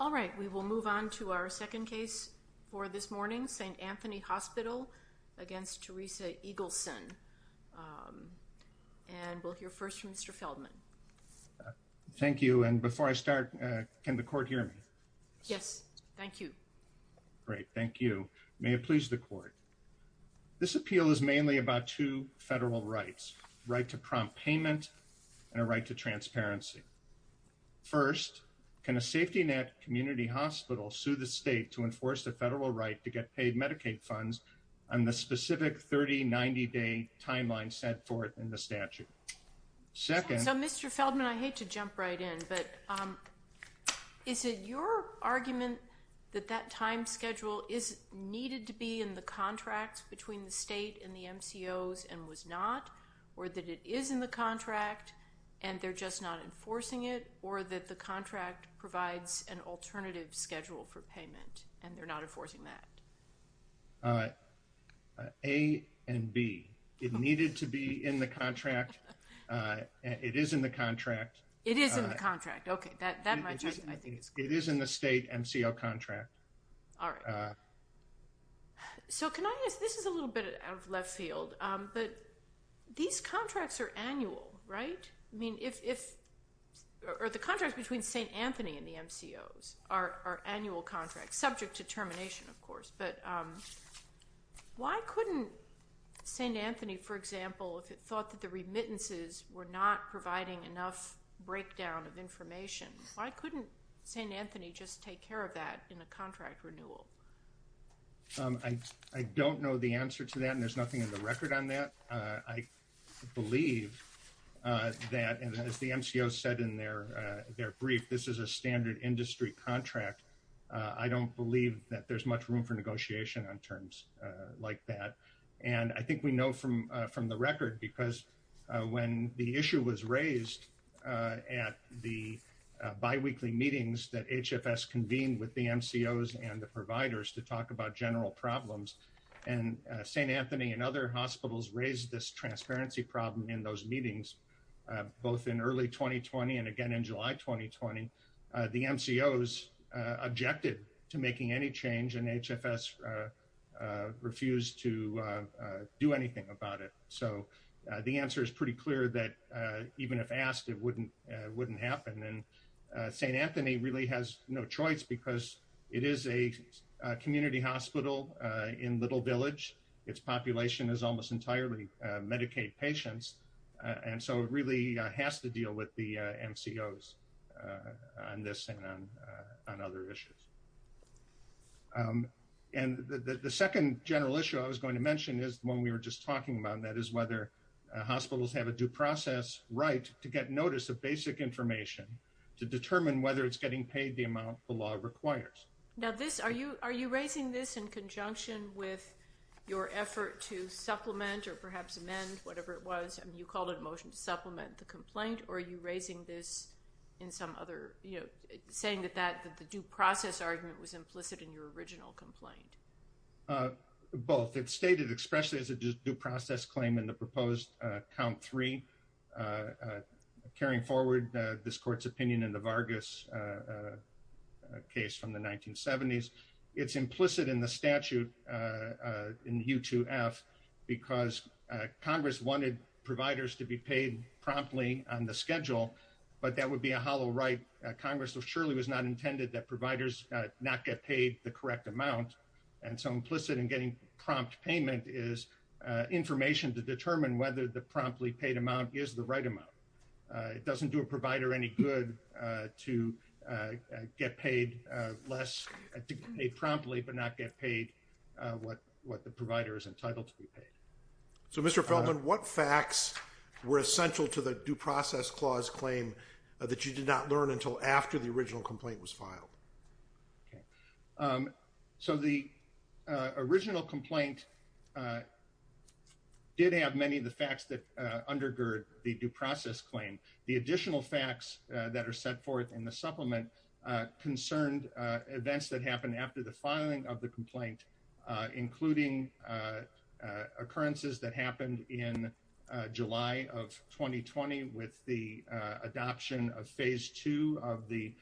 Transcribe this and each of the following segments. All right, we will move on to our second case for this morning, St. Anthony Hospital against Theresa Eagleson and we'll hear first from Mr. Feldman. Thank you and before I start can the court hear me? Yes, thank you. Great, thank you. May it please the court. This appeal is mainly about two federal rights, right to first, can a safety net community hospital sue the state to enforce the federal right to get paid Medicaid funds on the specific 30-90 day timeline set forth in the statute? Second. So, Mr. Feldman, I hate to jump right in, but is it your argument that that time schedule is needed to be in the contract between the state and the MCOs and was not or that it is in the contract and they're just not enforcing it or that the contract provides an alternative schedule for payment and they're not enforcing that? A and B. It needed to be in the contract. It is in the contract. It is in the contract. Okay, that matches. It is in the state MCO contract. All right. So can I ask, this is a little bit out of left field, but these contracts are annual, right? I mean, if, or the contracts between St. Anthony and the MCOs are annual contracts, subject to termination, of course, but why couldn't St. Anthony, for example, if it thought that the remittances were not providing enough breakdown of information, why couldn't St. Anthony just take care of that in a contract renewal? I don't know the answer to that and there's nothing in the record on that. I believe that, and as the MCO said in their brief, this is a standard industry contract. I don't believe that there's much room for negotiation on terms like that. And I think we know from the record because when the issue was raised at the biweekly meetings that HFS convened with the MCOs and the providers to talk about general problems and St. Anthony and other hospitals raised this transparency problem in those meetings, both in early 2020 and again in July, 2020, the MCOs objected to making any change and HFS refused to do anything about it. So the answer is pretty clear that even if asked, it wouldn't happen. And St. Anthony really has no choice because it is a community hospital in Little Village. Its population is almost entirely Medicaid patients. And so it really has to deal with the MCOs on this and on other issues. And the second general issue I was going to mention is the one we were just talking about, and that is whether hospitals have a due process right to get notice of basic information to determine whether it's getting paid the amount the law requires. Now this, are you raising this in conjunction with your effort to supplement or perhaps amend whatever it was, you called it a motion to supplement the complaint, or are you raising this in some other, saying that the due process argument was implicit in your original complaint? Both. It's stated expressly as a due process claim in the proposed count three, carrying forward this court's opinion in the Vargas case from the 1970s. It's implicit in the statute in U2F because Congress wanted providers to be paid promptly on the schedule, but that would be a hollow right. Congress surely was not intended that providers not get paid the amount. And so implicit in getting prompt payment is information to determine whether the promptly paid amount is the right amount. It doesn't do a provider any good to get paid less, to pay promptly but not get paid what the provider is entitled to be paid. So Mr. Feldman, what facts were essential to the due process clause claim that you did not learn until after the original complaint was filed? So the original complaint did have many of the facts that undergird the due process claim. The additional facts that are set forth in the supplement concerned events that happened after the filing of the complaint, including occurrences that happened in July of 2020 with the adoption of phase two of the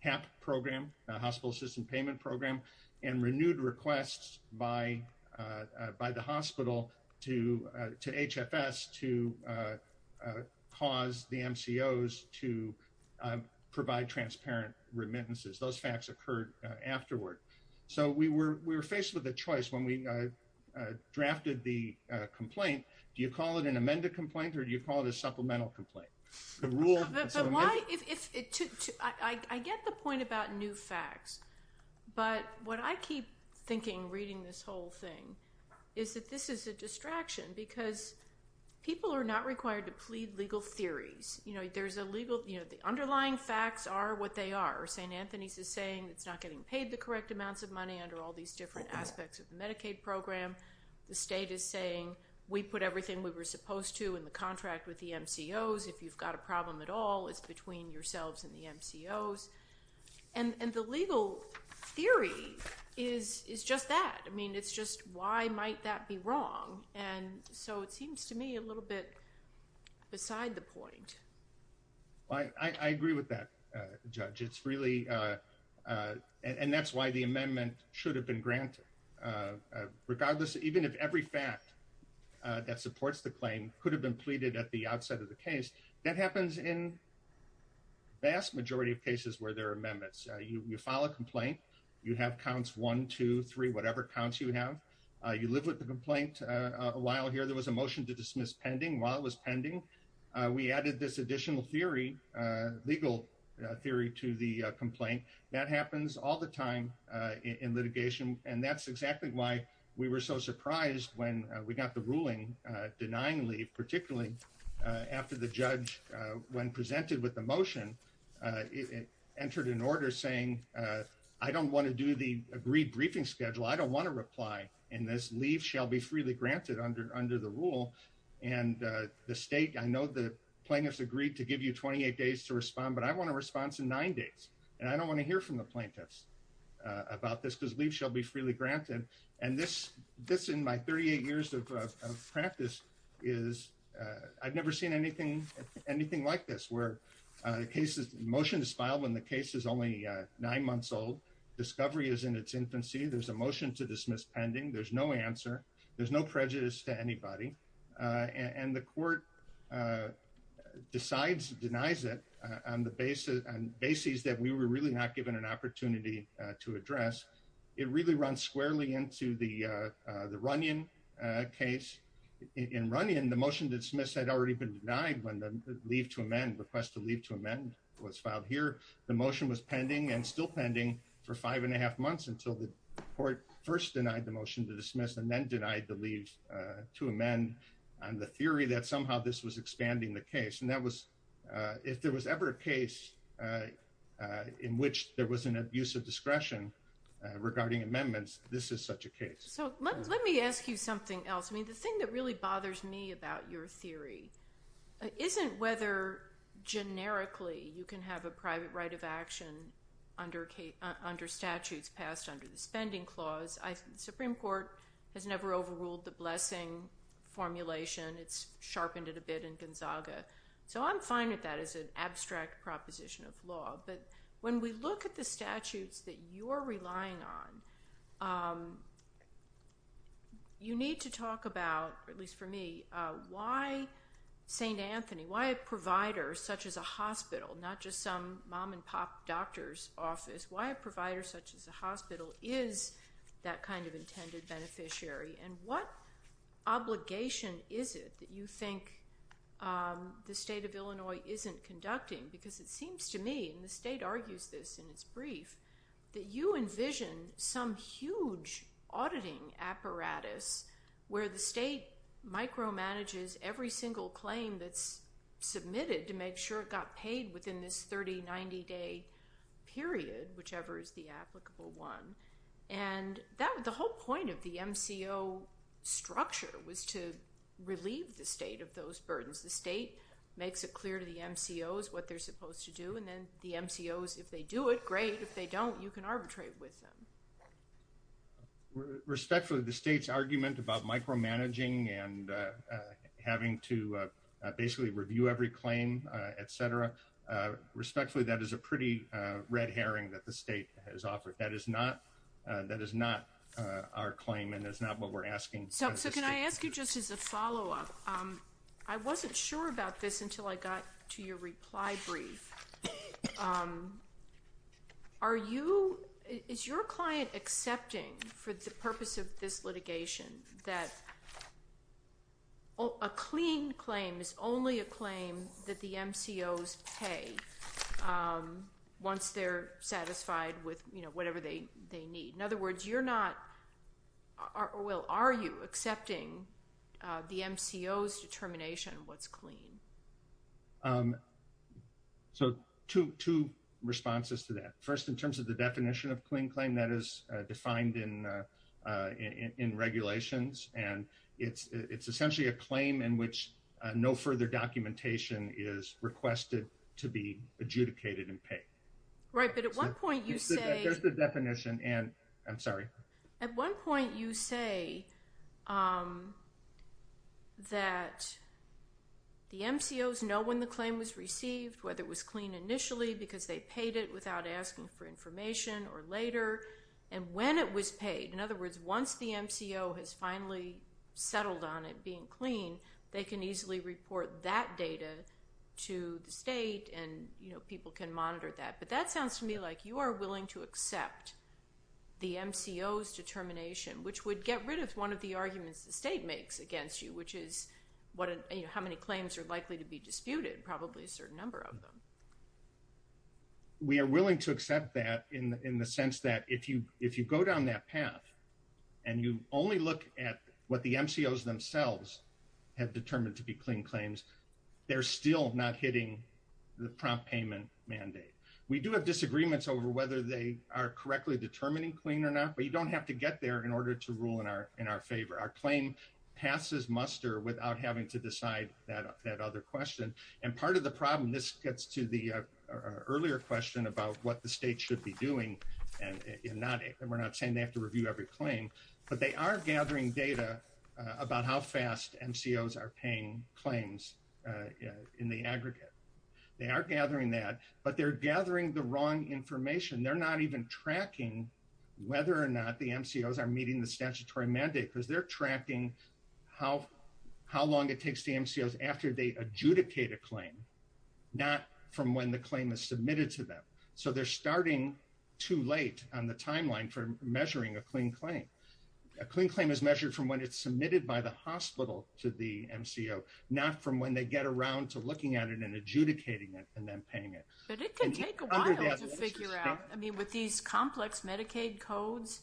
HAP program, hospital system payment program, and renewed requests by the hospital to HFS to cause the MCOs to provide transparent remittances. Those facts occurred afterward. So we were faced with a choice when we drafted the complaint. Do you call it an amended complaint or do you call it a supplemental complaint? I get the point about new facts, but what I keep thinking reading this whole thing is that this is a distraction because people are not required to plead legal theories. You know, there's a legal, you know, the underlying facts are what they are. St. Anthony's is saying it's not getting paid the correct amounts of money under all these different aspects of the Medicaid program. The state is saying we put everything we were supposed to in the contract with the MCOs. If you've got a problem at all, it's between yourselves and the MCOs. And the legal theory is just that. I mean, it's just why might that be wrong? And so it seems to me a little bit beside the point. I agree with that, Judge. It's really, and that's why the amendment should have been granted. Regardless, even if every fact that supports the claim could have been pleaded at the outset of the case, that happens in vast majority of cases where there are amendments. You file a complaint, you have counts one, two, three, whatever counts you have. You live with the complaint a while here. There was a motion to dismiss pending while it was pending. We added this additional theory, legal theory to the that happens all the time in litigation. And that's exactly why we were so surprised when we got the ruling denying leave, particularly after the judge, when presented with the motion, entered an order saying, I don't want to do the agreed briefing schedule. I don't want to reply. And this leave shall be freely granted under the rule. And the state, I know the plaintiffs agreed to give you 28 days to respond, but I want a response in nine days. And I don't want to hear from the plaintiffs about this because leave shall be freely granted. And this, this in my 38 years of practice is I've never seen anything, anything like this where the case is motion is filed when the case is only nine months old. Discovery is in its infancy. There's a motion to dismiss pending. There's no answer. There's no prejudice to anybody. Uh, and the court, uh, decides denies it on the basis and basis that we were really not given an opportunity to address. It really runs squarely into the, uh, uh, the running, uh, case in running and the motion that Smith had already been denied when the leave to amend request to leave to amend what's filed here. The motion was then denied the leaves, uh, to amend on the theory that somehow this was expanding the case. And that was, uh, if there was ever a case, uh, uh, in which there was an abuse of discretion, uh, regarding amendments, this is such a case. Let me ask you something else. I mean, the thing that really bothers me about your theory isn't whether generically you can have a private right of has never overruled the blessing formulation. It's sharpened it a bit in Gonzaga. So I'm fine with that as an abstract proposition of law. But when we look at the statutes that you're relying on, um, you need to talk about, at least for me, uh, why St. Anthony, why a provider such as a hospital, not just some mom and pop doctor's office, why a provider such as a hospital is that kind of intended beneficiary? And what obligation is it that you think, um, the state of Illinois isn't conducting? Because it seems to me, and the state argues this in its brief, that you envision some huge auditing apparatus where the state micromanages every single claim that's submitted to make sure it got paid within this 30, 90 day period, whichever is the applicable one. And that, the whole point of the MCO structure was to relieve the state of those burdens. The state makes it clear to the MCOs what they're supposed to do. And then the MCOs, if they do it, great. If they don't, you can arbitrate with them. Respectfully, the state's argument about micromanaging and, uh, uh, having to, uh, uh, basically review every claim, uh, et cetera, uh, respectfully, that is a pretty, uh, red herring that the state has offered. That is not, that is not, uh, our claim and that's not what we're asking. So, so can I ask you just as a follow-up? Um, I wasn't sure about this until I got to your reply brief. Um, are you, is your client accepting for the purpose of this litigation that a clean claim is only a claim that the MCOs pay, um, once they're satisfied with, you know, whatever they, they need? In other words, you're not, well, are you accepting, uh, the MCOs determination what's clean? Um, so two, two responses to that. First, in terms of the definition of clean claim, that is, uh, defined in, uh, in, in, in regulations. And it's, it's essentially a claim in which, uh, no further documentation is requested to be adjudicated and paid. Right. But at one point you say... There's the definition and I'm sorry. At one point you say, um, that the MCOs know when the claim was received, whether it was clean initially because they paid it without asking for information or later and when it was paid. In other words, once the MCO has finally settled on it being clean, they can easily report that data to the state and, you know, people can monitor that. But that sounds to me like you are willing to accept the MCOs determination, which would get rid of one of the arguments the state makes against you, which is what, you know, how many claims are likely to be disputed, probably a certain number of them. We are willing to accept that in the, in the sense that if you, if you go down that path and you only look at what the MCOs themselves have determined to be clean claims, they're still not hitting the prompt payment mandate. We do have disagreements over whether they are correctly determining clean or not, but you don't have to get there in order to rule in our, in our favor. Our claim passes muster without having to decide that, that other question. And part of the problem, this gets to the earlier question about what the state should be doing and not, and we're not saying they have to review every claim, but they are gathering data about how fast MCOs are paying claims in the aggregate. They are gathering that, but they're gathering the wrong information. They're not even tracking whether or not the MCOs are meeting the statutory mandate because they're tracking how, how long it takes the MCOs after they adjudicate a claim, not from when the claim is submitted to them. So they're starting too late on the timeline for measuring a clean claim. A clean claim is measured from when it's submitted by the hospital to the MCO, not from when they get around to looking at it and adjudicating it and then paying it. But it can take a while to figure out. I mean, with these complex Medicaid codes,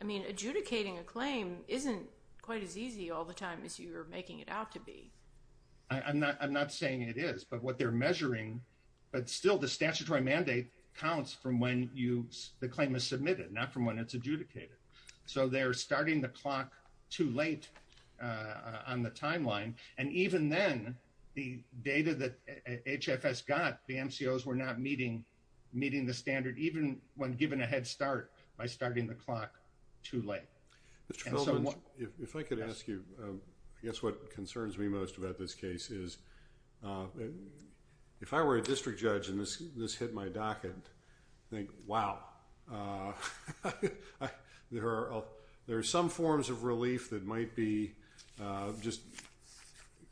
I mean, adjudicating a claim isn't quite as easy all the time as you're making it out to be. I'm not, I'm not saying it is, but what they're measuring, but still the statutory mandate counts from when you, the claim is submitted, not from when it's adjudicated. So they're starting the clock too late on the timeline. And even then the data that HFS got, the MCOs were not meeting, meeting the standard, even when given a head start by starting the clock too late. If I could ask you, I guess what concerns me most about this case is if I were a district judge and this hit my docket, I'd think, wow, there are some forms of relief that might be just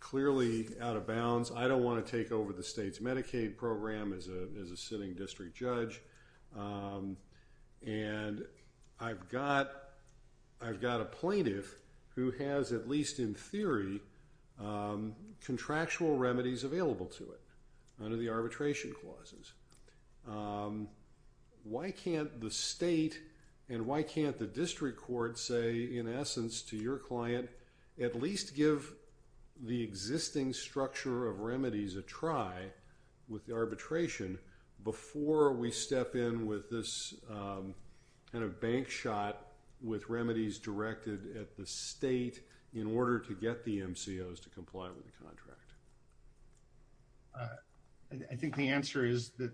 clearly out of bounds. I don't want to take over the state's Medicaid program as a sitting district judge. And I've got, I've got a plaintiff who has, at least in theory, contractual remedies available to it under the arbitration clauses. Why can't the state and why can't the district court say, in essence, to your client, at least give the existing structure of remedies a try with the arbitration before we step in with this kind of bank shot with remedies directed at the state in order to get the MCOs to comply with the contract? I think the answer is that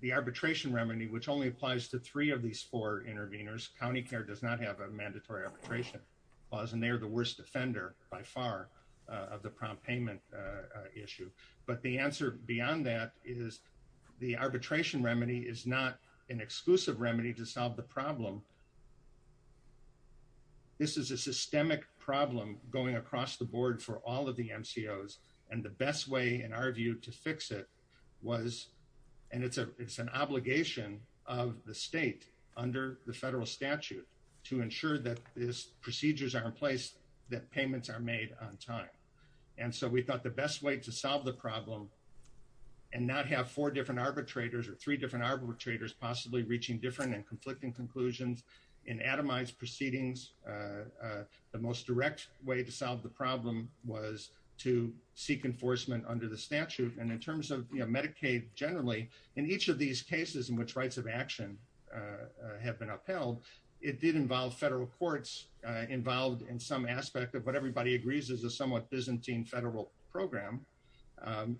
the arbitration remedy, which only applies to three of these four intervenors, county care does not have a mandatory arbitration clause and they are the payment issue. But the answer beyond that is the arbitration remedy is not an exclusive remedy to solve the problem. This is a systemic problem going across the board for all of the MCOs. And the best way in our view to fix it was, and it's a, it's an obligation of the state under the federal statute to ensure that this procedures are in place, that payments are made on time. And so we thought the best way to solve the problem and not have four different arbitrators or three different arbitrators possibly reaching different and conflicting conclusions in atomized proceedings, the most direct way to solve the problem was to seek enforcement under the statute. And in terms of Medicaid generally, in each of these cases in which rights of action have been upheld, it did involve federal courts involved in some aspect of what everybody agrees is a somewhat Byzantine federal program.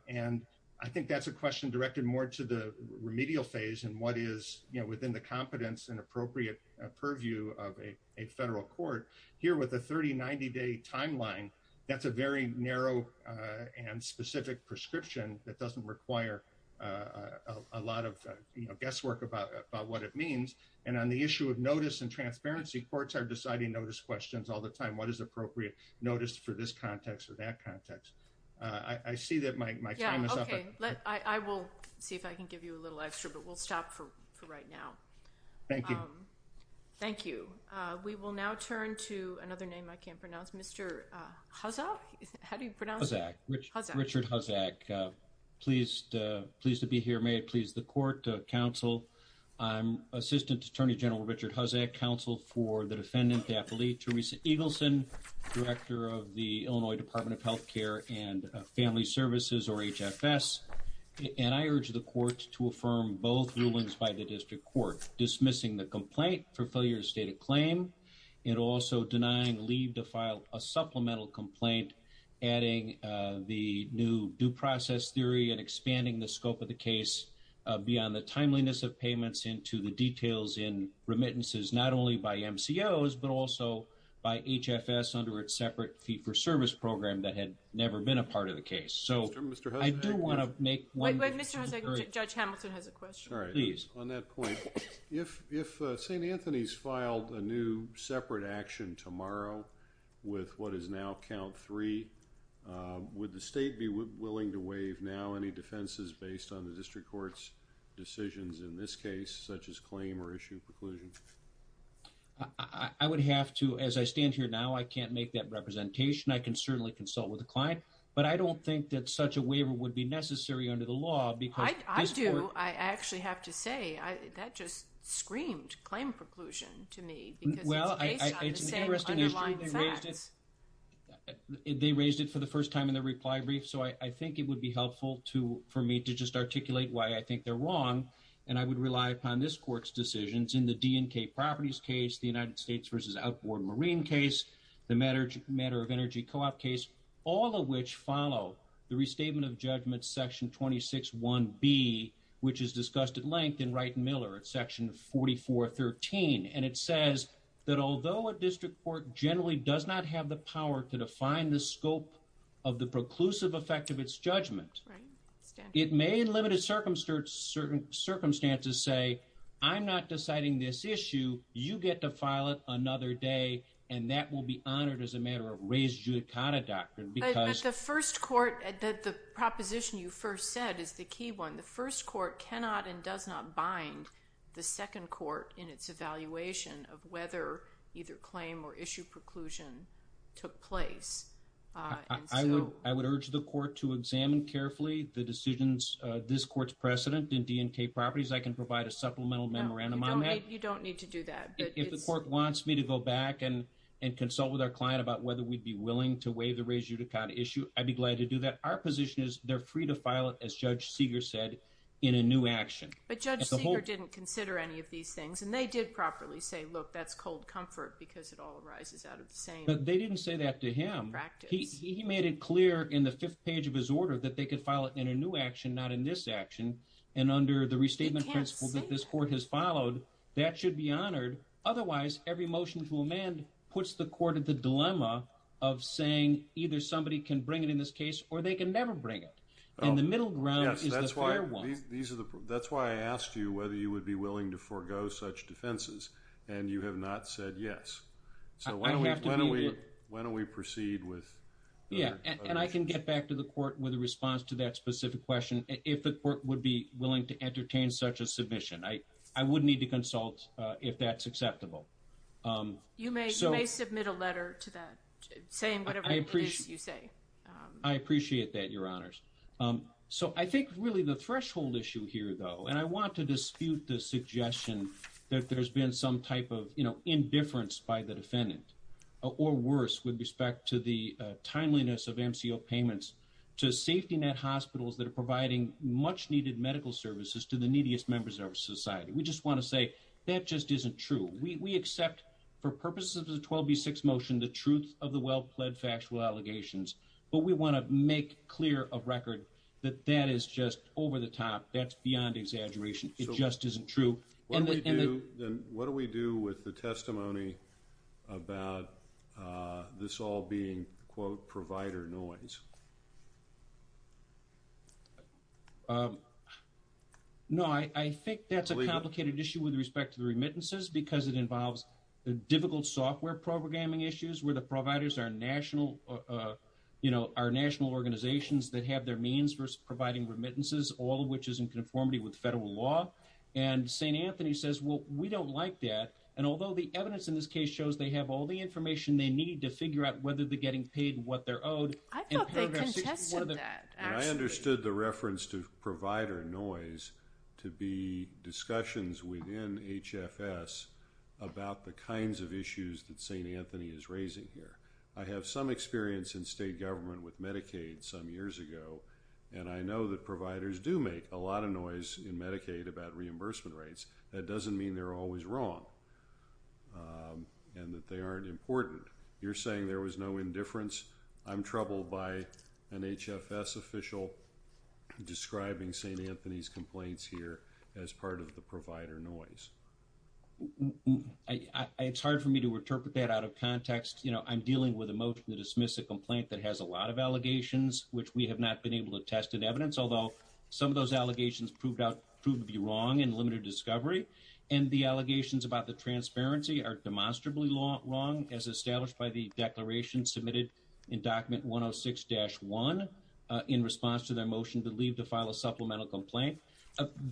And I think that's a question directed more to the remedial phase and what is within the competence and appropriate purview of a federal court here with a 30, 90 day timeline. That's a very narrow and specific prescription that doesn't require a lot of guesswork about what it means. And on the issue of notice and notice for this context or that context, I see that my time is up. Yeah, okay. I will see if I can give you a little extra, but we'll stop for right now. Thank you. Thank you. We will now turn to another name I can't pronounce. Mr. Huzzack? How do you pronounce? Huzzack. Richard Huzzack. Pleased to be here. May it please the court, the council. I'm Assistant Attorney General Richard Huzzack, counsel for the defendant Daphne Theresa Eagleson, Director of the Illinois Department of Healthcare and Family Services or HFS. And I urge the court to affirm both rulings by the district court, dismissing the complaint for failure to state a claim and also denying leave to file a supplemental complaint, adding the new due process theory and expanding the scope of the case beyond the timeliness of payments into the details in remittances, not only by MCOs, but also by HFS under its separate fee-for-service program that had never been a part of the case. So, I do want to make one... Wait, wait, Mr. Huzzack. Judge Hamilton has a question. All right. Please. On that point, if St. Anthony's filed a new separate action tomorrow with what is now count three, would the state be willing to waive now any defenses based on the district court's decisions in this case, such as claim or issue preclusion? I would have to, as I stand here now, I can't make that representation. I can certainly consult with the client, but I don't think that such a waiver would be necessary under the law because... I do. I actually have to say, that just screamed claim preclusion to me because it's based on the same underlying facts. They raised it for the first time in their reply brief, so I think it would be helpful for me to just articulate why I think they're wrong, and I would rely upon this court's decisions in the DNK properties case, the United States versus outboard marine case, the matter of energy co-op case, all of which follow the restatement of judgment section 26.1b, which is discussed at length in Wright and Miller at section 44.13. And it says that although a district court generally does not have the power to define the scope of the preclusive effect of its judgment... It may, in limited circumstances, say, I'm not deciding this issue, you get to file it another day, and that will be honored as a matter of raised judicata doctrine because... But the first court, the proposition you first said is the key one. The first court cannot and does not bind the second court in its evaluation of whether either claim or issue preclusion took place. I would urge the court to examine carefully the decisions, this court's precedent in DNK properties. I can provide a supplemental memorandum on that. You don't need to do that. If the court wants me to go back and consult with our client about whether we'd be willing to waive the raised judicata issue, I'd be glad to do that. Our position is they're free to file it, as Judge Seeger said, in a new action. But Judge Seeger didn't consider any of these things, and they did properly say, look, that's cold comfort because it all arises out of the same... They didn't say that to him. He made it clear in the fifth page of his order that they could file it in a new action, not in this action. And under the restatement principles that this court has followed, that should be honored. Otherwise, every motion to amend puts the court at the dilemma of saying either somebody can bring it in this case or they can never bring it. And the middle ground is the fair one. That's why I asked you whether you would be willing to forego such defenses, and you have not said yes. So when do we proceed with... Yeah, and I can get back to the court with a response to that specific question if the court would be willing to entertain such a submission. I would need to consult if that's acceptable. You may submit a letter to that saying whatever it is you say. I appreciate that, Your Honors. So I think really the threshold issue here, though, and I want to dispute the suggestion that there's been some type of indifference by the defendant or worse with respect to the timeliness of MCO payments to safety net hospitals that are providing much needed medical services to the neediest members of our society. We just want to say that just isn't true. We accept for purposes of the 12B6 motion the truth of the well-pled factual allegations, but we want to make clear of record that that is just over the top. That's beyond exaggeration. It just isn't true. What do we do with the testimony about this all being, quote, provider noise? No, I think that's a complicated issue with respect to the remittances because it involves difficult software programming issues where the providers are national organizations that have their means for providing remittances, all of which is in conformity with federal law. And St. Anthony says, well, we don't like that. And although the evidence in this case shows they have all the information they need to figure out whether they're getting paid what they're owed. I thought they contested that, actually. I understood the reference to provider noise to be discussions within HFS about the kinds of issues that St. Anthony is raising here. I have some experience in state government with Medicaid some years ago, and I know that reimbursement rates, that doesn't mean they're always wrong and that they aren't important. You're saying there was no indifference. I'm troubled by an HFS official describing St. Anthony's complaints here as part of the provider noise. It's hard for me to interpret that out of context. You know, I'm dealing with a motion to dismiss a complaint that has a lot of allegations, which we have not been able to test in evidence. Some of those allegations proved to be wrong and limited discovery, and the allegations about the transparency are demonstrably wrong, as established by the declaration submitted in document 106-1 in response to their motion to leave to file a supplemental complaint.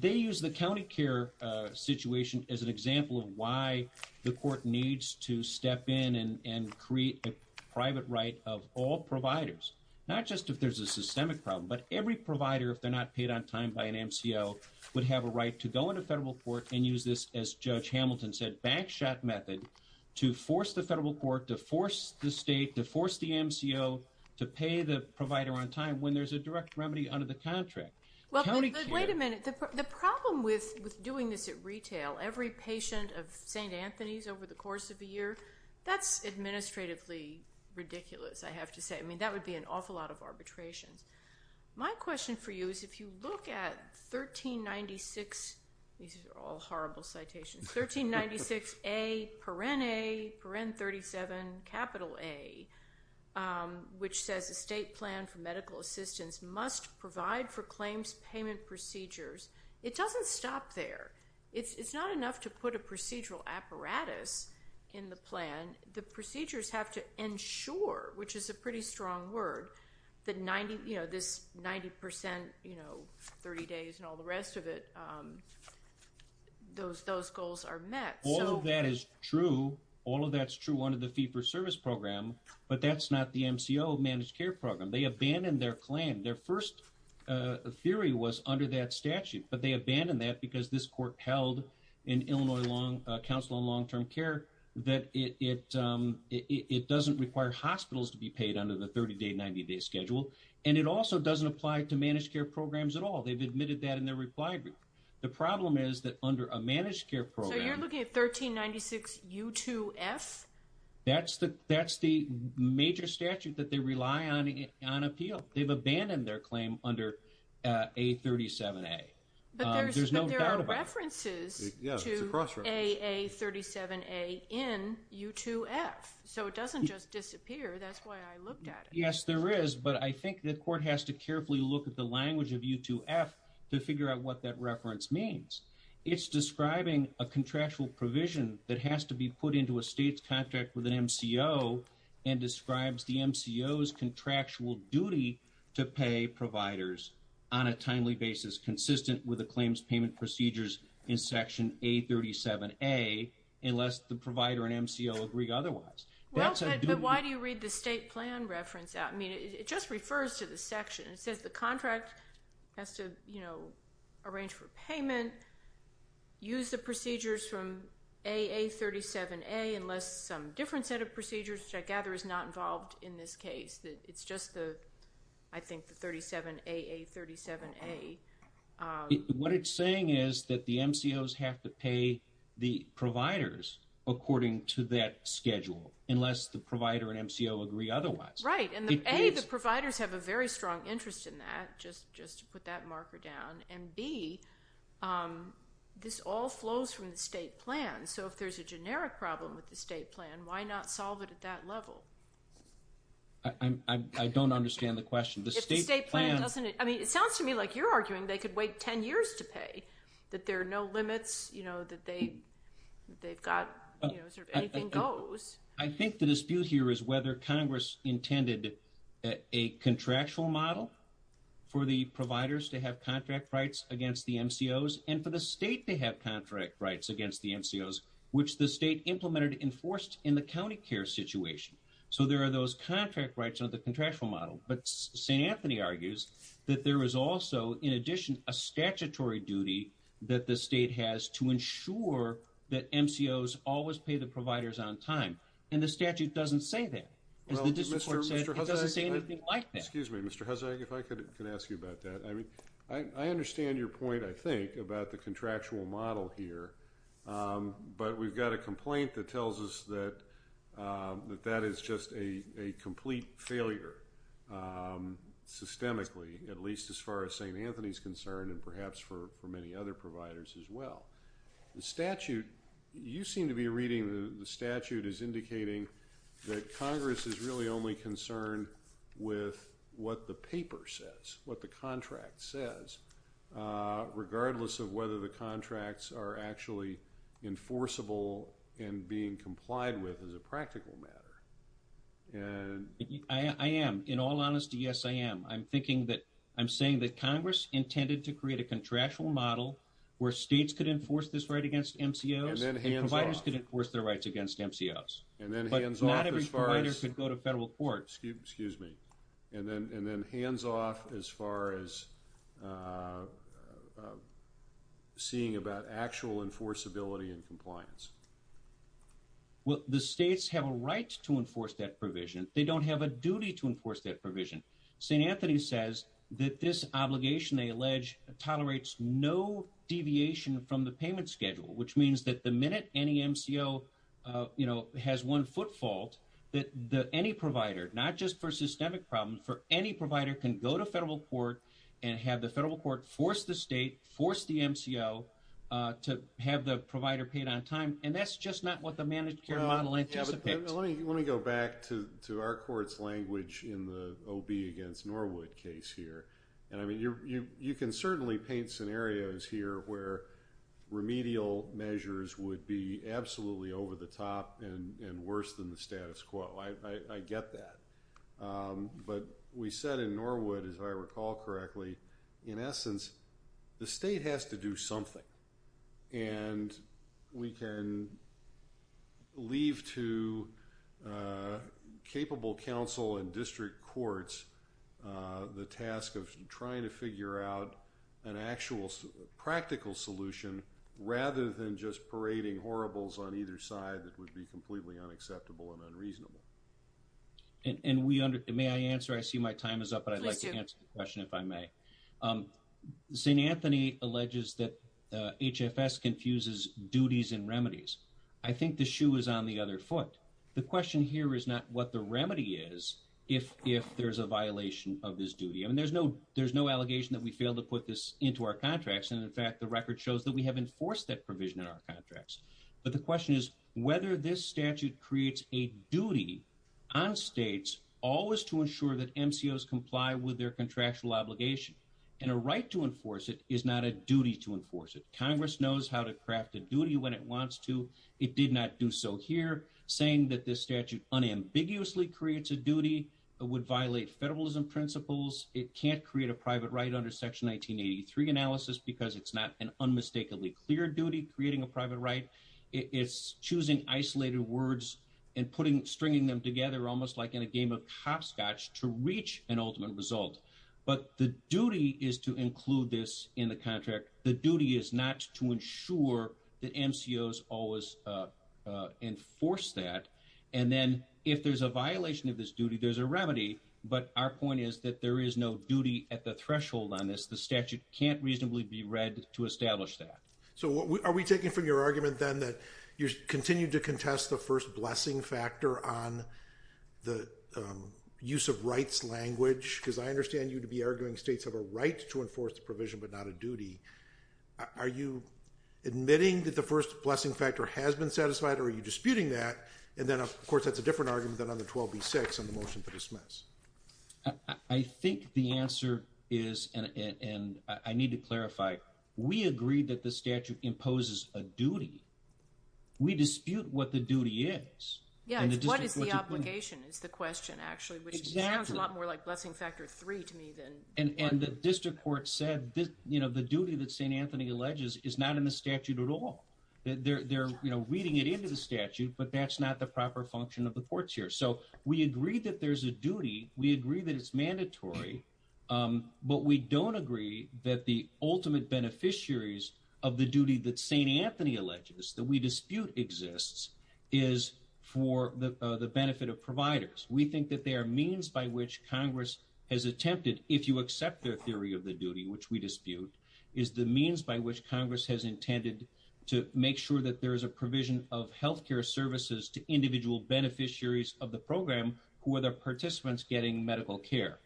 They use the county care situation as an example of why the court needs to step in and create a private right of all providers, not just if there's a systemic problem, but every provider, if they're not paid on time by an MCO, would have a right to go into federal court and use this, as Judge Hamilton said, backshot method to force the federal court, to force the state, to force the MCO to pay the provider on time when there's a direct remedy under the contract. Well, wait a minute. The problem with doing this at retail, every patient of St. Anthony's over the course of a year, that's administratively ridiculous, I have to say. I mean, that would be an awful lot of arbitrations. My question for you is, if you look at 1396, these are all horrible citations, 1396A, Peren A, Peren 37, capital A, which says the state plan for medical assistance must provide for claims payment procedures. It doesn't stop there. It's not enough to put a procedural apparatus in the plan. The procedures have to ensure, which is a pretty strong word, that this 90%, 30 days and all the rest of it, those goals are met. All of that is true. All of that's true under the fee-for-service program, but that's not the MCO managed care program. They abandoned their plan. Their first theory was under that statute, but they abandoned that because this court held in Illinois Council on Long-Term Care that it doesn't require hospitals to be paid under the 30-day, 90-day schedule, and it also doesn't apply to managed care programs at all. They've admitted that in their reply group. The problem is that under a managed care program- So you're looking at 1396U2F? That's the major statute that they rely on on appeal. They've abandoned their claim under A37A. But there are references to AA37A in U2F, so it doesn't just disappear. That's why I looked at it. Yes, there is, but I think the court has to carefully look at the language of U2F to figure out what that reference means. It's describing a contractual provision that has to be put into a state's contract with an MCO and describes the MCO's contractual duty to pay providers on a timely basis, consistent with the claims payment procedures in Section A37A, unless the provider and MCO agree otherwise. Well, but why do you read the state plan reference out? I mean, it just refers to the section. It says the contract has to, you know, arrange for payment, use the procedures from AA37A, unless some different set of procedures, which I gather is not involved in this case. It's just the, I think, the 37AA37A. What it's saying is that the MCOs have to pay the providers according to that schedule, unless the provider and MCO agree otherwise. Right, and A, the providers have a very strong interest in that, just to put that marker down, and B, this all flows from the state plan. So if there's a generic problem with the state plan, why not solve it at that level? I don't understand the question. If the state plan doesn't, I mean, it sounds to me like you're arguing they could wait 10 years to pay, that there are no limits, you know, that they've got, you know, anything goes. I think the dispute here is whether Congress intended a contractual model for the providers to have contract rights against the MCOs and for the state to have contract rights against the MCOs, which the state implemented and enforced in the county care situation. So there are those contract rights under the contractual model, but St. Anthony argues that there is also, in addition, a statutory duty that the state has to ensure that MCOs always pay the providers on time, and the statute doesn't say that. As the district court said, it doesn't say anything like that. Excuse me, Mr. Huzzag, if I could ask you about that. I understand your point, I think, about the contractual model here, but we've got a complaint that tells us that that is just a complete failure, systemically, at least as far as St. Anthony's concerned and perhaps for many other providers as well. The statute, you seem to be reading the statute as indicating that Congress is really only with what the paper says, what the contract says, regardless of whether the contracts are actually enforceable and being complied with as a practical matter. I am. In all honesty, yes, I am. I'm thinking that, I'm saying that Congress intended to create a contractual model where states could enforce this right against MCOs and providers could enforce their rights against MCOs. But not every provider could go to federal court. Excuse me. And then hands off as far as seeing about actual enforceability and compliance. Well, the states have a right to enforce that provision. They don't have a duty to enforce that provision. St. Anthony says that this obligation, they allege, tolerates no deviation from the payment schedule, which means that the minute any MCO has one foot fault, that any provider, not just for systemic problems, for any provider can go to federal court and have the federal court force the state, force the MCO to have the provider paid on time. And that's just not what the managed care model anticipates. Let me go back to our court's language in the OB against Norwood case here. And I mean, you can certainly paint scenarios here where remedial measures would be absolutely over the top and worse than the status quo. I get that. But we said in Norwood, as I recall correctly, in essence, the state has to do something. And we can leave to capable council and district courts the task of trying to figure out an actual practical solution rather than just parading horribles on either side that would be completely unacceptable and unreasonable. And may I answer? I see my time is up, but I'd like to answer the question if I may. St. Anthony alleges that HFS confuses duties and remedies. I think the shoe is on the other foot. The question here is not what the remedy is if there's a violation of this duty. I mean, there's no allegation that we failed to put this into our contracts. And in fact, the record shows that we have enforced that provision in our contracts. But the question is whether this statute creates a duty on states always to ensure that MCOs comply with their contractual obligation. And a right to enforce it is not a duty to enforce it. Congress knows how to craft a duty when it wants to. It did not do so here. Saying that this statute unambiguously creates a duty would violate federalism principles. It can't create a private right under Section 1983 analysis because it's not an unmistakably clear duty creating a private right. It's choosing isolated words and putting stringing them together almost like in a game of hopscotch to reach an ultimate result. But the duty is to include this in the contract. The duty is not to ensure that MCOs always enforce that. And then if there's a violation of this duty, there's a remedy. But our point is that there is no duty at the threshold on this. The statute can't reasonably be read to establish that. So are we taking from your argument then that you continue to contest the first blessing factor on the use of rights language? Because I understand you to be arguing states have a right to enforce the provision, but not a duty. Are you admitting that the first blessing factor has been satisfied? Or are you disputing that? And then, of course, that's a different argument than on the 12B-6 on the motion to dismiss. I think the answer is, and I need to clarify, we agree that the statute imposes a duty. We dispute what the duty is. What is the obligation is the question, actually, which sounds a lot more like blessing factor three to me than one. And the district court said the duty that St. Anthony alleges is not in the statute at all. They're reading it into the statute, but that's not the proper function of the courts here. So we agree that there's a duty. We agree that it's mandatory. But we don't agree that the ultimate beneficiaries of the duty that St. Anthony alleges that we the benefit of providers. We think that there are means by which Congress has attempted, if you accept their theory of the duty, which we dispute, is the means by which Congress has intended to make sure that there is a provision of health care services to individual beneficiaries of the program who are the participants getting medical care.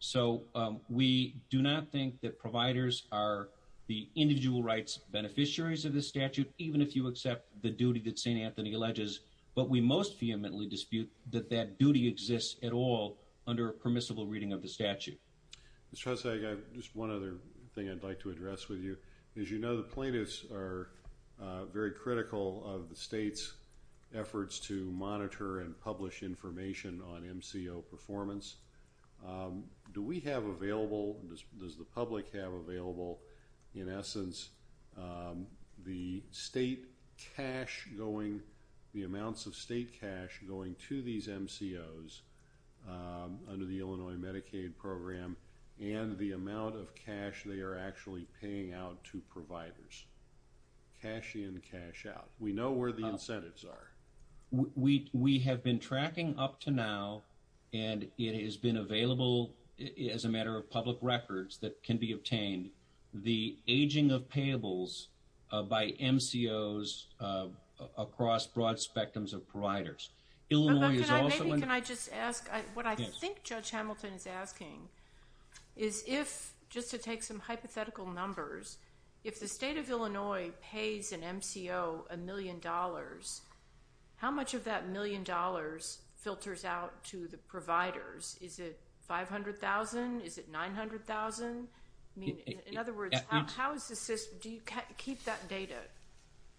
So we do not think that providers are the individual rights beneficiaries of the statute, even if you accept the duty that St. Anthony alleges. But we most vehemently dispute that that duty exists at all under a permissible reading of the statute. Mr. Hussag, just one other thing I'd like to address with you. As you know, the plaintiffs are very critical of the state's efforts to monitor and publish information on MCO performance. Do we have available, does the public have available, in essence, the state cash going the amounts of state cash going to these MCOs under the Illinois Medicaid program and the amount of cash they are actually paying out to providers? Cash in, cash out. We know where the incentives are. We have been tracking up to now, and it has been available as a matter of public records that can be obtained. The aging of payables by MCOs across broad spectrums of providers. Illinois is also- But maybe can I just ask, what I think Judge Hamilton is asking, is if, just to take some hypothetical numbers, if the state of Illinois pays an MCO a million dollars, how much of that million dollars filters out to the providers? Is it $500,000? Is it $900,000? In other words, how is the system, do you keep that data?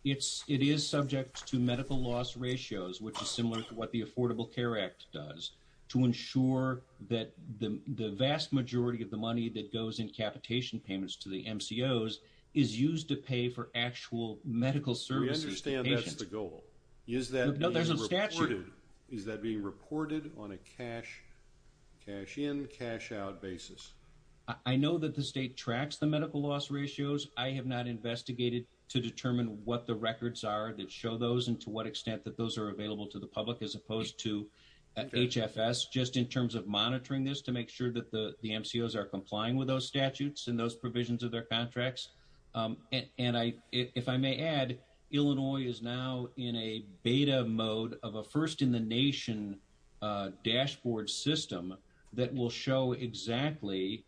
It is subject to medical loss ratios, which is similar to what the Affordable Care Act does, to ensure that the vast majority of the money that goes in capitation payments to the MCOs is used to pay for actual medical services to patients. We understand that's the goal. Is that being reported? No, there's a statute. Is that being reported on a cash in, cash out basis? I know that the state tracks the medical loss ratios. I have not investigated to determine what the records are that show those and to what extent that those are available to the public, as opposed to HFS, just in terms of monitoring this to make sure that the MCOs are complying with those statutes and those provisions of their contracts. And I, if I may add, Illinois is now in a beta mode of a first in the nation dashboard system that will show exactly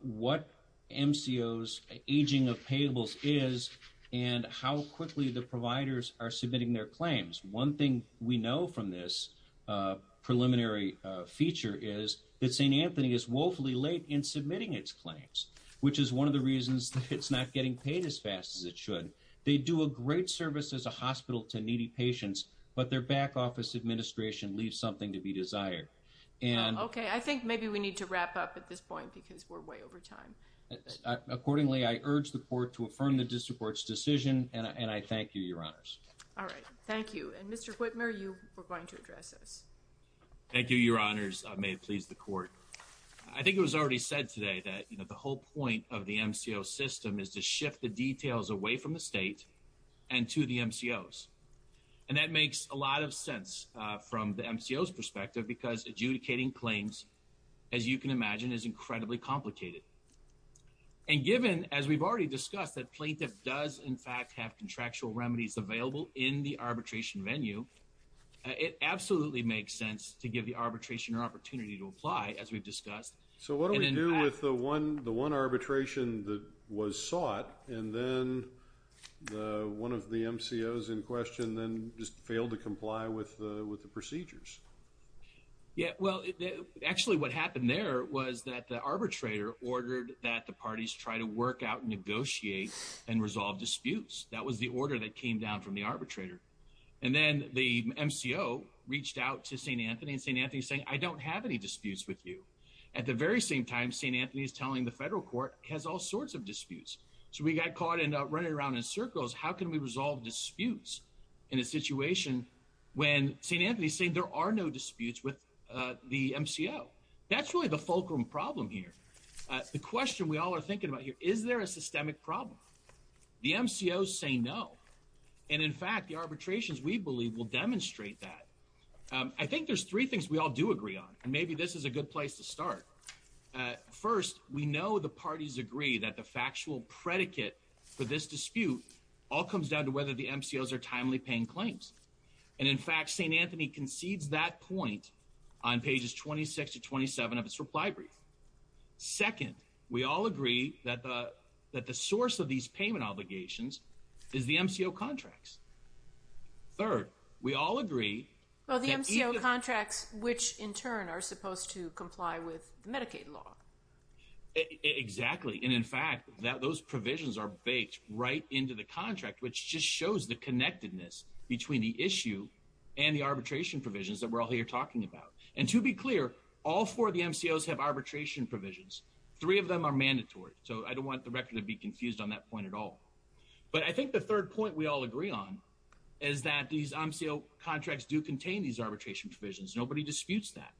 what MCOs aging of payables is and how quickly the providers are submitting their claims. One thing we know from this preliminary feature is that St. Anthony is woefully late in submitting its claims, which is one of the reasons that it's not getting paid as fast as it should. They do a great service as a hospital to needy patients, but their back office administration leaves something to be desired. Okay. I think maybe we need to wrap up at this point because we're way over time. Accordingly, I urge the court to affirm the district court's decision and I thank you, Your Honors. All right. Thank you. And Mr. Whitmer, you were going to address us. Thank you, Your Honors. May it please the court. I think it was already said today that, you know, the whole point of the MCO system is to shift the details away from the state and to the MCOs. And that makes a lot of sense from the MCOs perspective because adjudicating claims, as you can imagine, is incredibly complicated. And given, as we've already discussed, that plaintiff does, in fact, have contractual remedies available in the arbitration venue, it absolutely makes sense to give the arbitration an opportunity to apply, as we've discussed. So what do we do with the one arbitration that was sought and then one of the MCOs in question then just failed to comply with the procedures? Yeah. Well, actually, what happened there was that the arbitrator ordered that the parties try to work out, negotiate, and resolve disputes. That was the order that came down from the arbitrator. And then the MCO reached out to St. Anthony and St. Anthony is saying, I don't have any disputes with you. At the very same time, St. Anthony is telling the federal court has all sorts of disputes. So we got caught in running around in circles. How can we resolve disputes in a situation when St. Anthony is saying there are no disputes with the MCO? That's really the fulcrum problem here. The question we all are thinking about here, is there a systemic problem? The MCOs say no. And in fact, the arbitrations, we believe, will demonstrate that. I think there's three things we all do agree on. Maybe this is a good place to start. First, we know the parties agree that the factual predicate for this dispute all comes down to whether the MCOs are timely paying claims. And in fact, St. Anthony concedes that point on pages 26 to 27 of its reply brief. Second, we all agree that the source of these payment obligations is the MCO contracts. Third, we all agree that even— are supposed to comply with the Medicaid law. Exactly. And in fact, those provisions are baked right into the contract, which just shows the connectedness between the issue and the arbitration provisions that we're all here talking about. And to be clear, all four of the MCOs have arbitration provisions. Three of them are mandatory. So I don't want the record to be confused on that point at all. But I think the third point we all agree on is that these MCO contracts do contain these arbitration provisions. Nobody disputes that.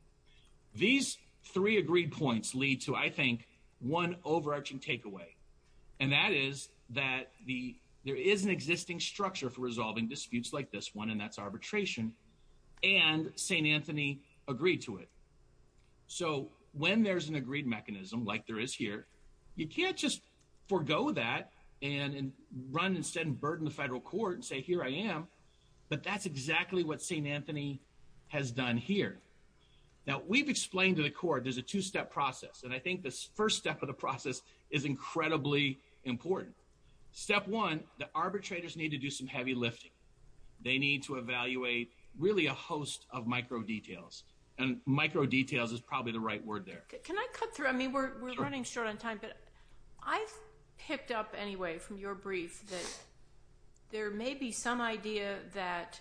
These three agreed points lead to, I think, one overarching takeaway. And that is that there is an existing structure for resolving disputes like this one, and that's arbitration. And St. Anthony agreed to it. So when there's an agreed mechanism like there is here, you can't just forgo that and run instead and burden the federal court and say, here I am. But that's exactly what St. Anthony has done here. Now, we've explained to the court there's a two-step process. And I think this first step of the process is incredibly important. Step one, the arbitrators need to do some heavy lifting. They need to evaluate, really, a host of micro details. And micro details is probably the right word there. Can I cut through? I mean, we're running short on time. But I've picked up, anyway, from your brief that there may be some idea that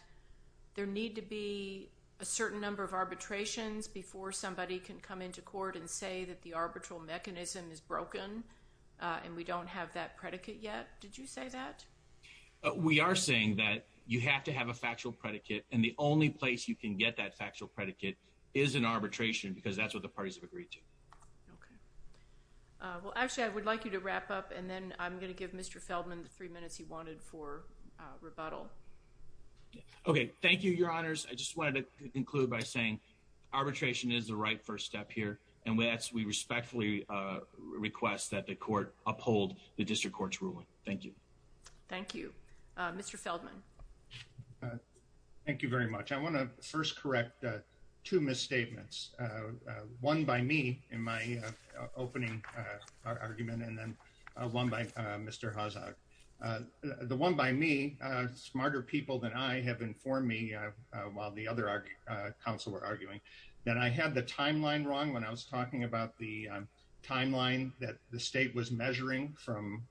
there need to be a certain number of arbitrations before somebody can come into court and say that the arbitral mechanism is broken and we don't have that predicate yet. Did you say that? We are saying that you have to have a factual predicate. And the only place you can get that factual predicate is in arbitration, because that's what the parties have agreed to. OK. Well, actually, I would like you to wrap up. And then I'm going to give Mr. Feldman the three minutes he wanted for rebuttal. OK. Thank you, your honors. I just wanted to conclude by saying arbitration is the right first step here. And we respectfully request that the court uphold the district court's ruling. Thank you. Thank you. Mr. Feldman. Thank you very much. I want to first correct two misstatements. One by me in my opening argument, and then one by Mr. Hazard. The one by me, smarter people than I have informed me, while the other council were arguing, that I had the timeline wrong when I was talking about the timeline that the state was measuring from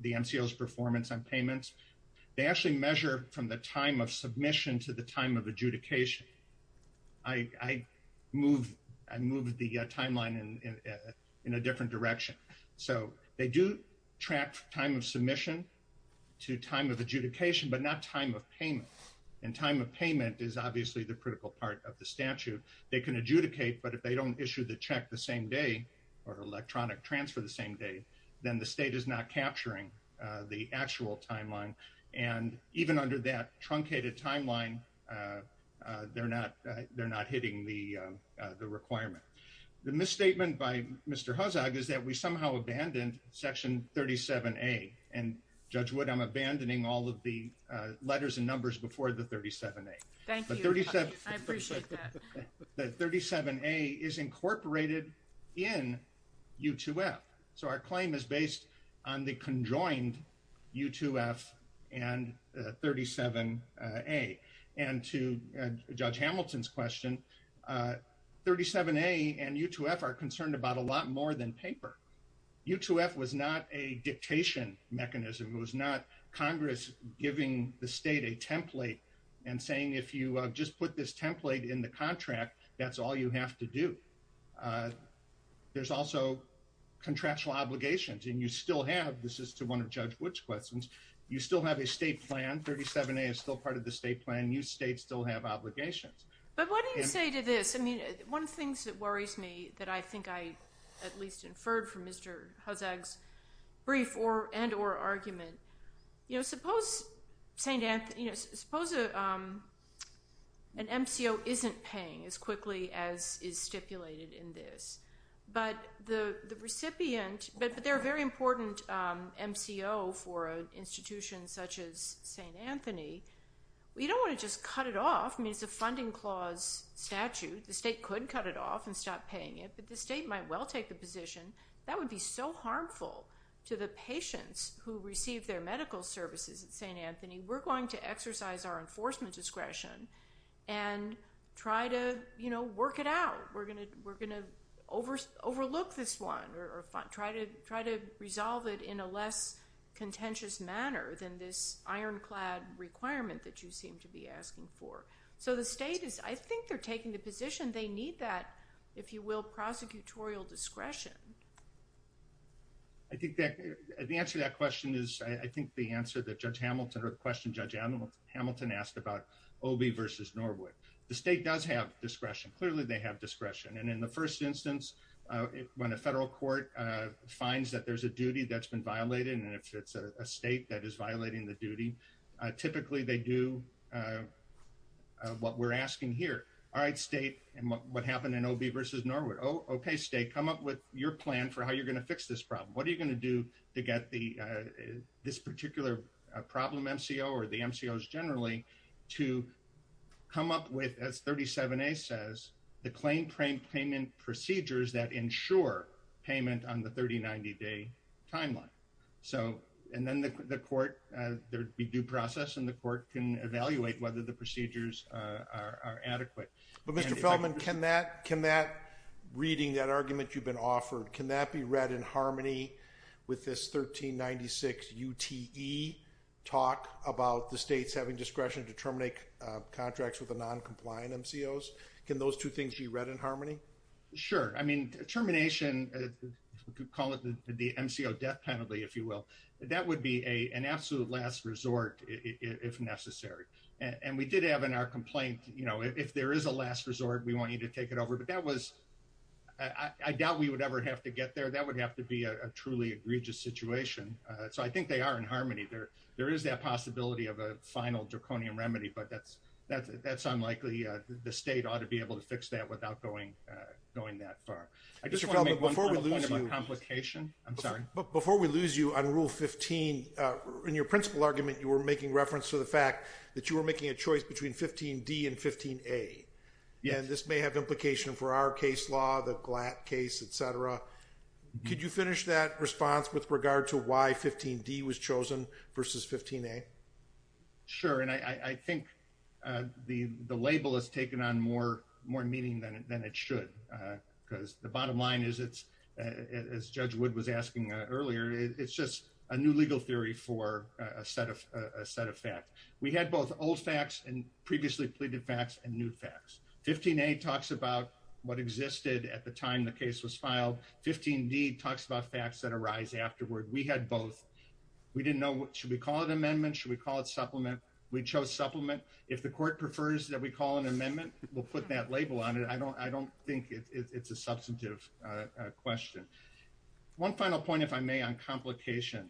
the MCO's performance on payments. They actually measure from the time of submission to the time of adjudication. I moved the timeline in a different direction. So they do track time of submission to time of adjudication, but not time of payment. And time of payment is obviously the critical part of the statute. They can adjudicate, but if they don't issue the check the same day or electronic transfer the same day, then the state is not capturing the actual timeline. And even under that truncated timeline, they're not hitting the requirement. The misstatement by Mr. Hazard is that we somehow abandoned Section 37A. And Judge Wood, I'm abandoning all of the letters and numbers before the 37A. Thank you, I appreciate that. The 37A is incorporated in U2F. So our claim is based on the conjoined U2F and 37A. And to Judge Hamilton's question, 37A and U2F are concerned about a lot more than paper. U2F was not a dictation mechanism. It was not Congress giving the state a template and saying, if you just put this template in the contract, that's all you have to do. There's also contractual obligations. And you still have, this is to one of Judge Wood's questions, you still have a state plan. 37A is still part of the state plan. And you states still have obligations. But what do you say to this? I mean, one of the things that worries me that I think I at least inferred from Mr. Huzzag's brief and or argument, you know, suppose an MCO isn't paying as quickly as is stipulated in this. But the recipient, but they're a very important MCO for an institution such as St. Anthony. We don't want to just cut it off. I mean, it's a funding clause statute. The state could cut it off and stop paying it. But the state might well take the position. That would be so harmful to the patients who receive their medical services at St. Anthony. We're going to exercise our enforcement discretion and try to, you know, work it out. We're going to overlook this one or try to resolve it in a less contentious manner than this ironclad requirement that you seem to be asking for. So the state is, I think they're taking the position they need that, if you will, prosecutorial discretion. I think that the answer to that question is, I think the answer that Judge Hamilton or question Judge Hamilton asked about OB versus Norwood. The state does have discretion. Clearly, they have discretion. And in the first instance, when a federal court finds that there's a duty that's been violated, and if it's a state that is violating the duty, typically they do what we're asking here. All right, state. And what happened in OB versus Norwood? Okay, state, come up with your plan for how you're going to fix this problem. What are you going to do to get this particular problem MCO or the MCOs generally to come up with, as 37A says, the claim claim payment procedures that ensure payment on the 3090 day timeline. So and then the court, there'd be due process and the court can evaluate whether the procedures are adequate. But Mr. Feldman, can that reading that argument you've been offered, can that be read in harmony with this 1396 UTE talk about the states having discretion to terminate contracts with the noncompliant MCOs? Can those two things be read in harmony? Sure. I mean, termination, we could call it the MCO death penalty, if you will. That would be an absolute last resort, if necessary. And we did have in our complaint, you know, if there is a last resort, we want you to take it over. But that was, I doubt we would ever have to get there. That would have to be a truly egregious situation. So I think they are in harmony there. There is that possibility of a final draconian remedy. But that's unlikely. The state ought to be able to fix that without going that far. I just want to make one point about complication. I'm sorry. But before we lose you on Rule 15, in your principal argument, you were making reference to the fact that you were making a choice between 15D and 15A. And this may have implication for our case law, the Glatt case, et cetera. Could you finish that response with regard to why 15D was chosen versus 15A? Sure. And I think the label has taken on more meaning than it should. Because the bottom line is, as Judge Wood was asking earlier, it's just a new legal theory for a set of facts. We had both old facts and previously pleaded facts and new facts. 15A talks about what existed at the time the case was filed. 15D talks about facts that arise afterward. We had both. We didn't know, should we call it amendment? Should we call it supplement? We chose supplement. If the court prefers that we call an amendment, we'll put that label on it. I don't think it's a substantive question. One final point, if I may, on complication.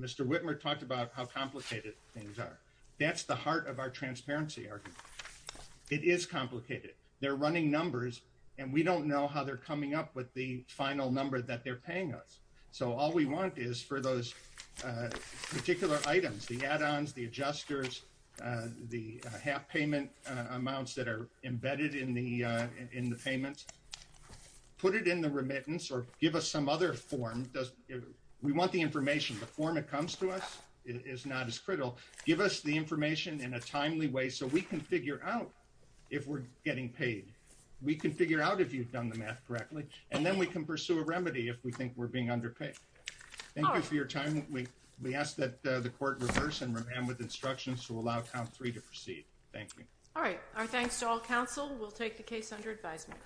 Mr. Whitmer talked about how complicated things are. That's the heart of our transparency argument. It is complicated. They're running numbers, and we don't know how they're coming up with the final number that they're paying us. So all we want is for those particular items, the add-ons, the adjusters, the half payment amounts that are embedded in the payment, put it in the remittance or give us some other form. We want the information. The form that comes to us is not as critical. Give us the information in a timely way so we can figure out if we're getting paid. We can figure out if you've done the math correctly, and then we can pursue a remedy if we think we're being underpaid. Thank you for your time. We ask that the court reverse and with instructions to allow count three to proceed. Thank you. All right. Our thanks to all counsel. We'll take the case under advisement.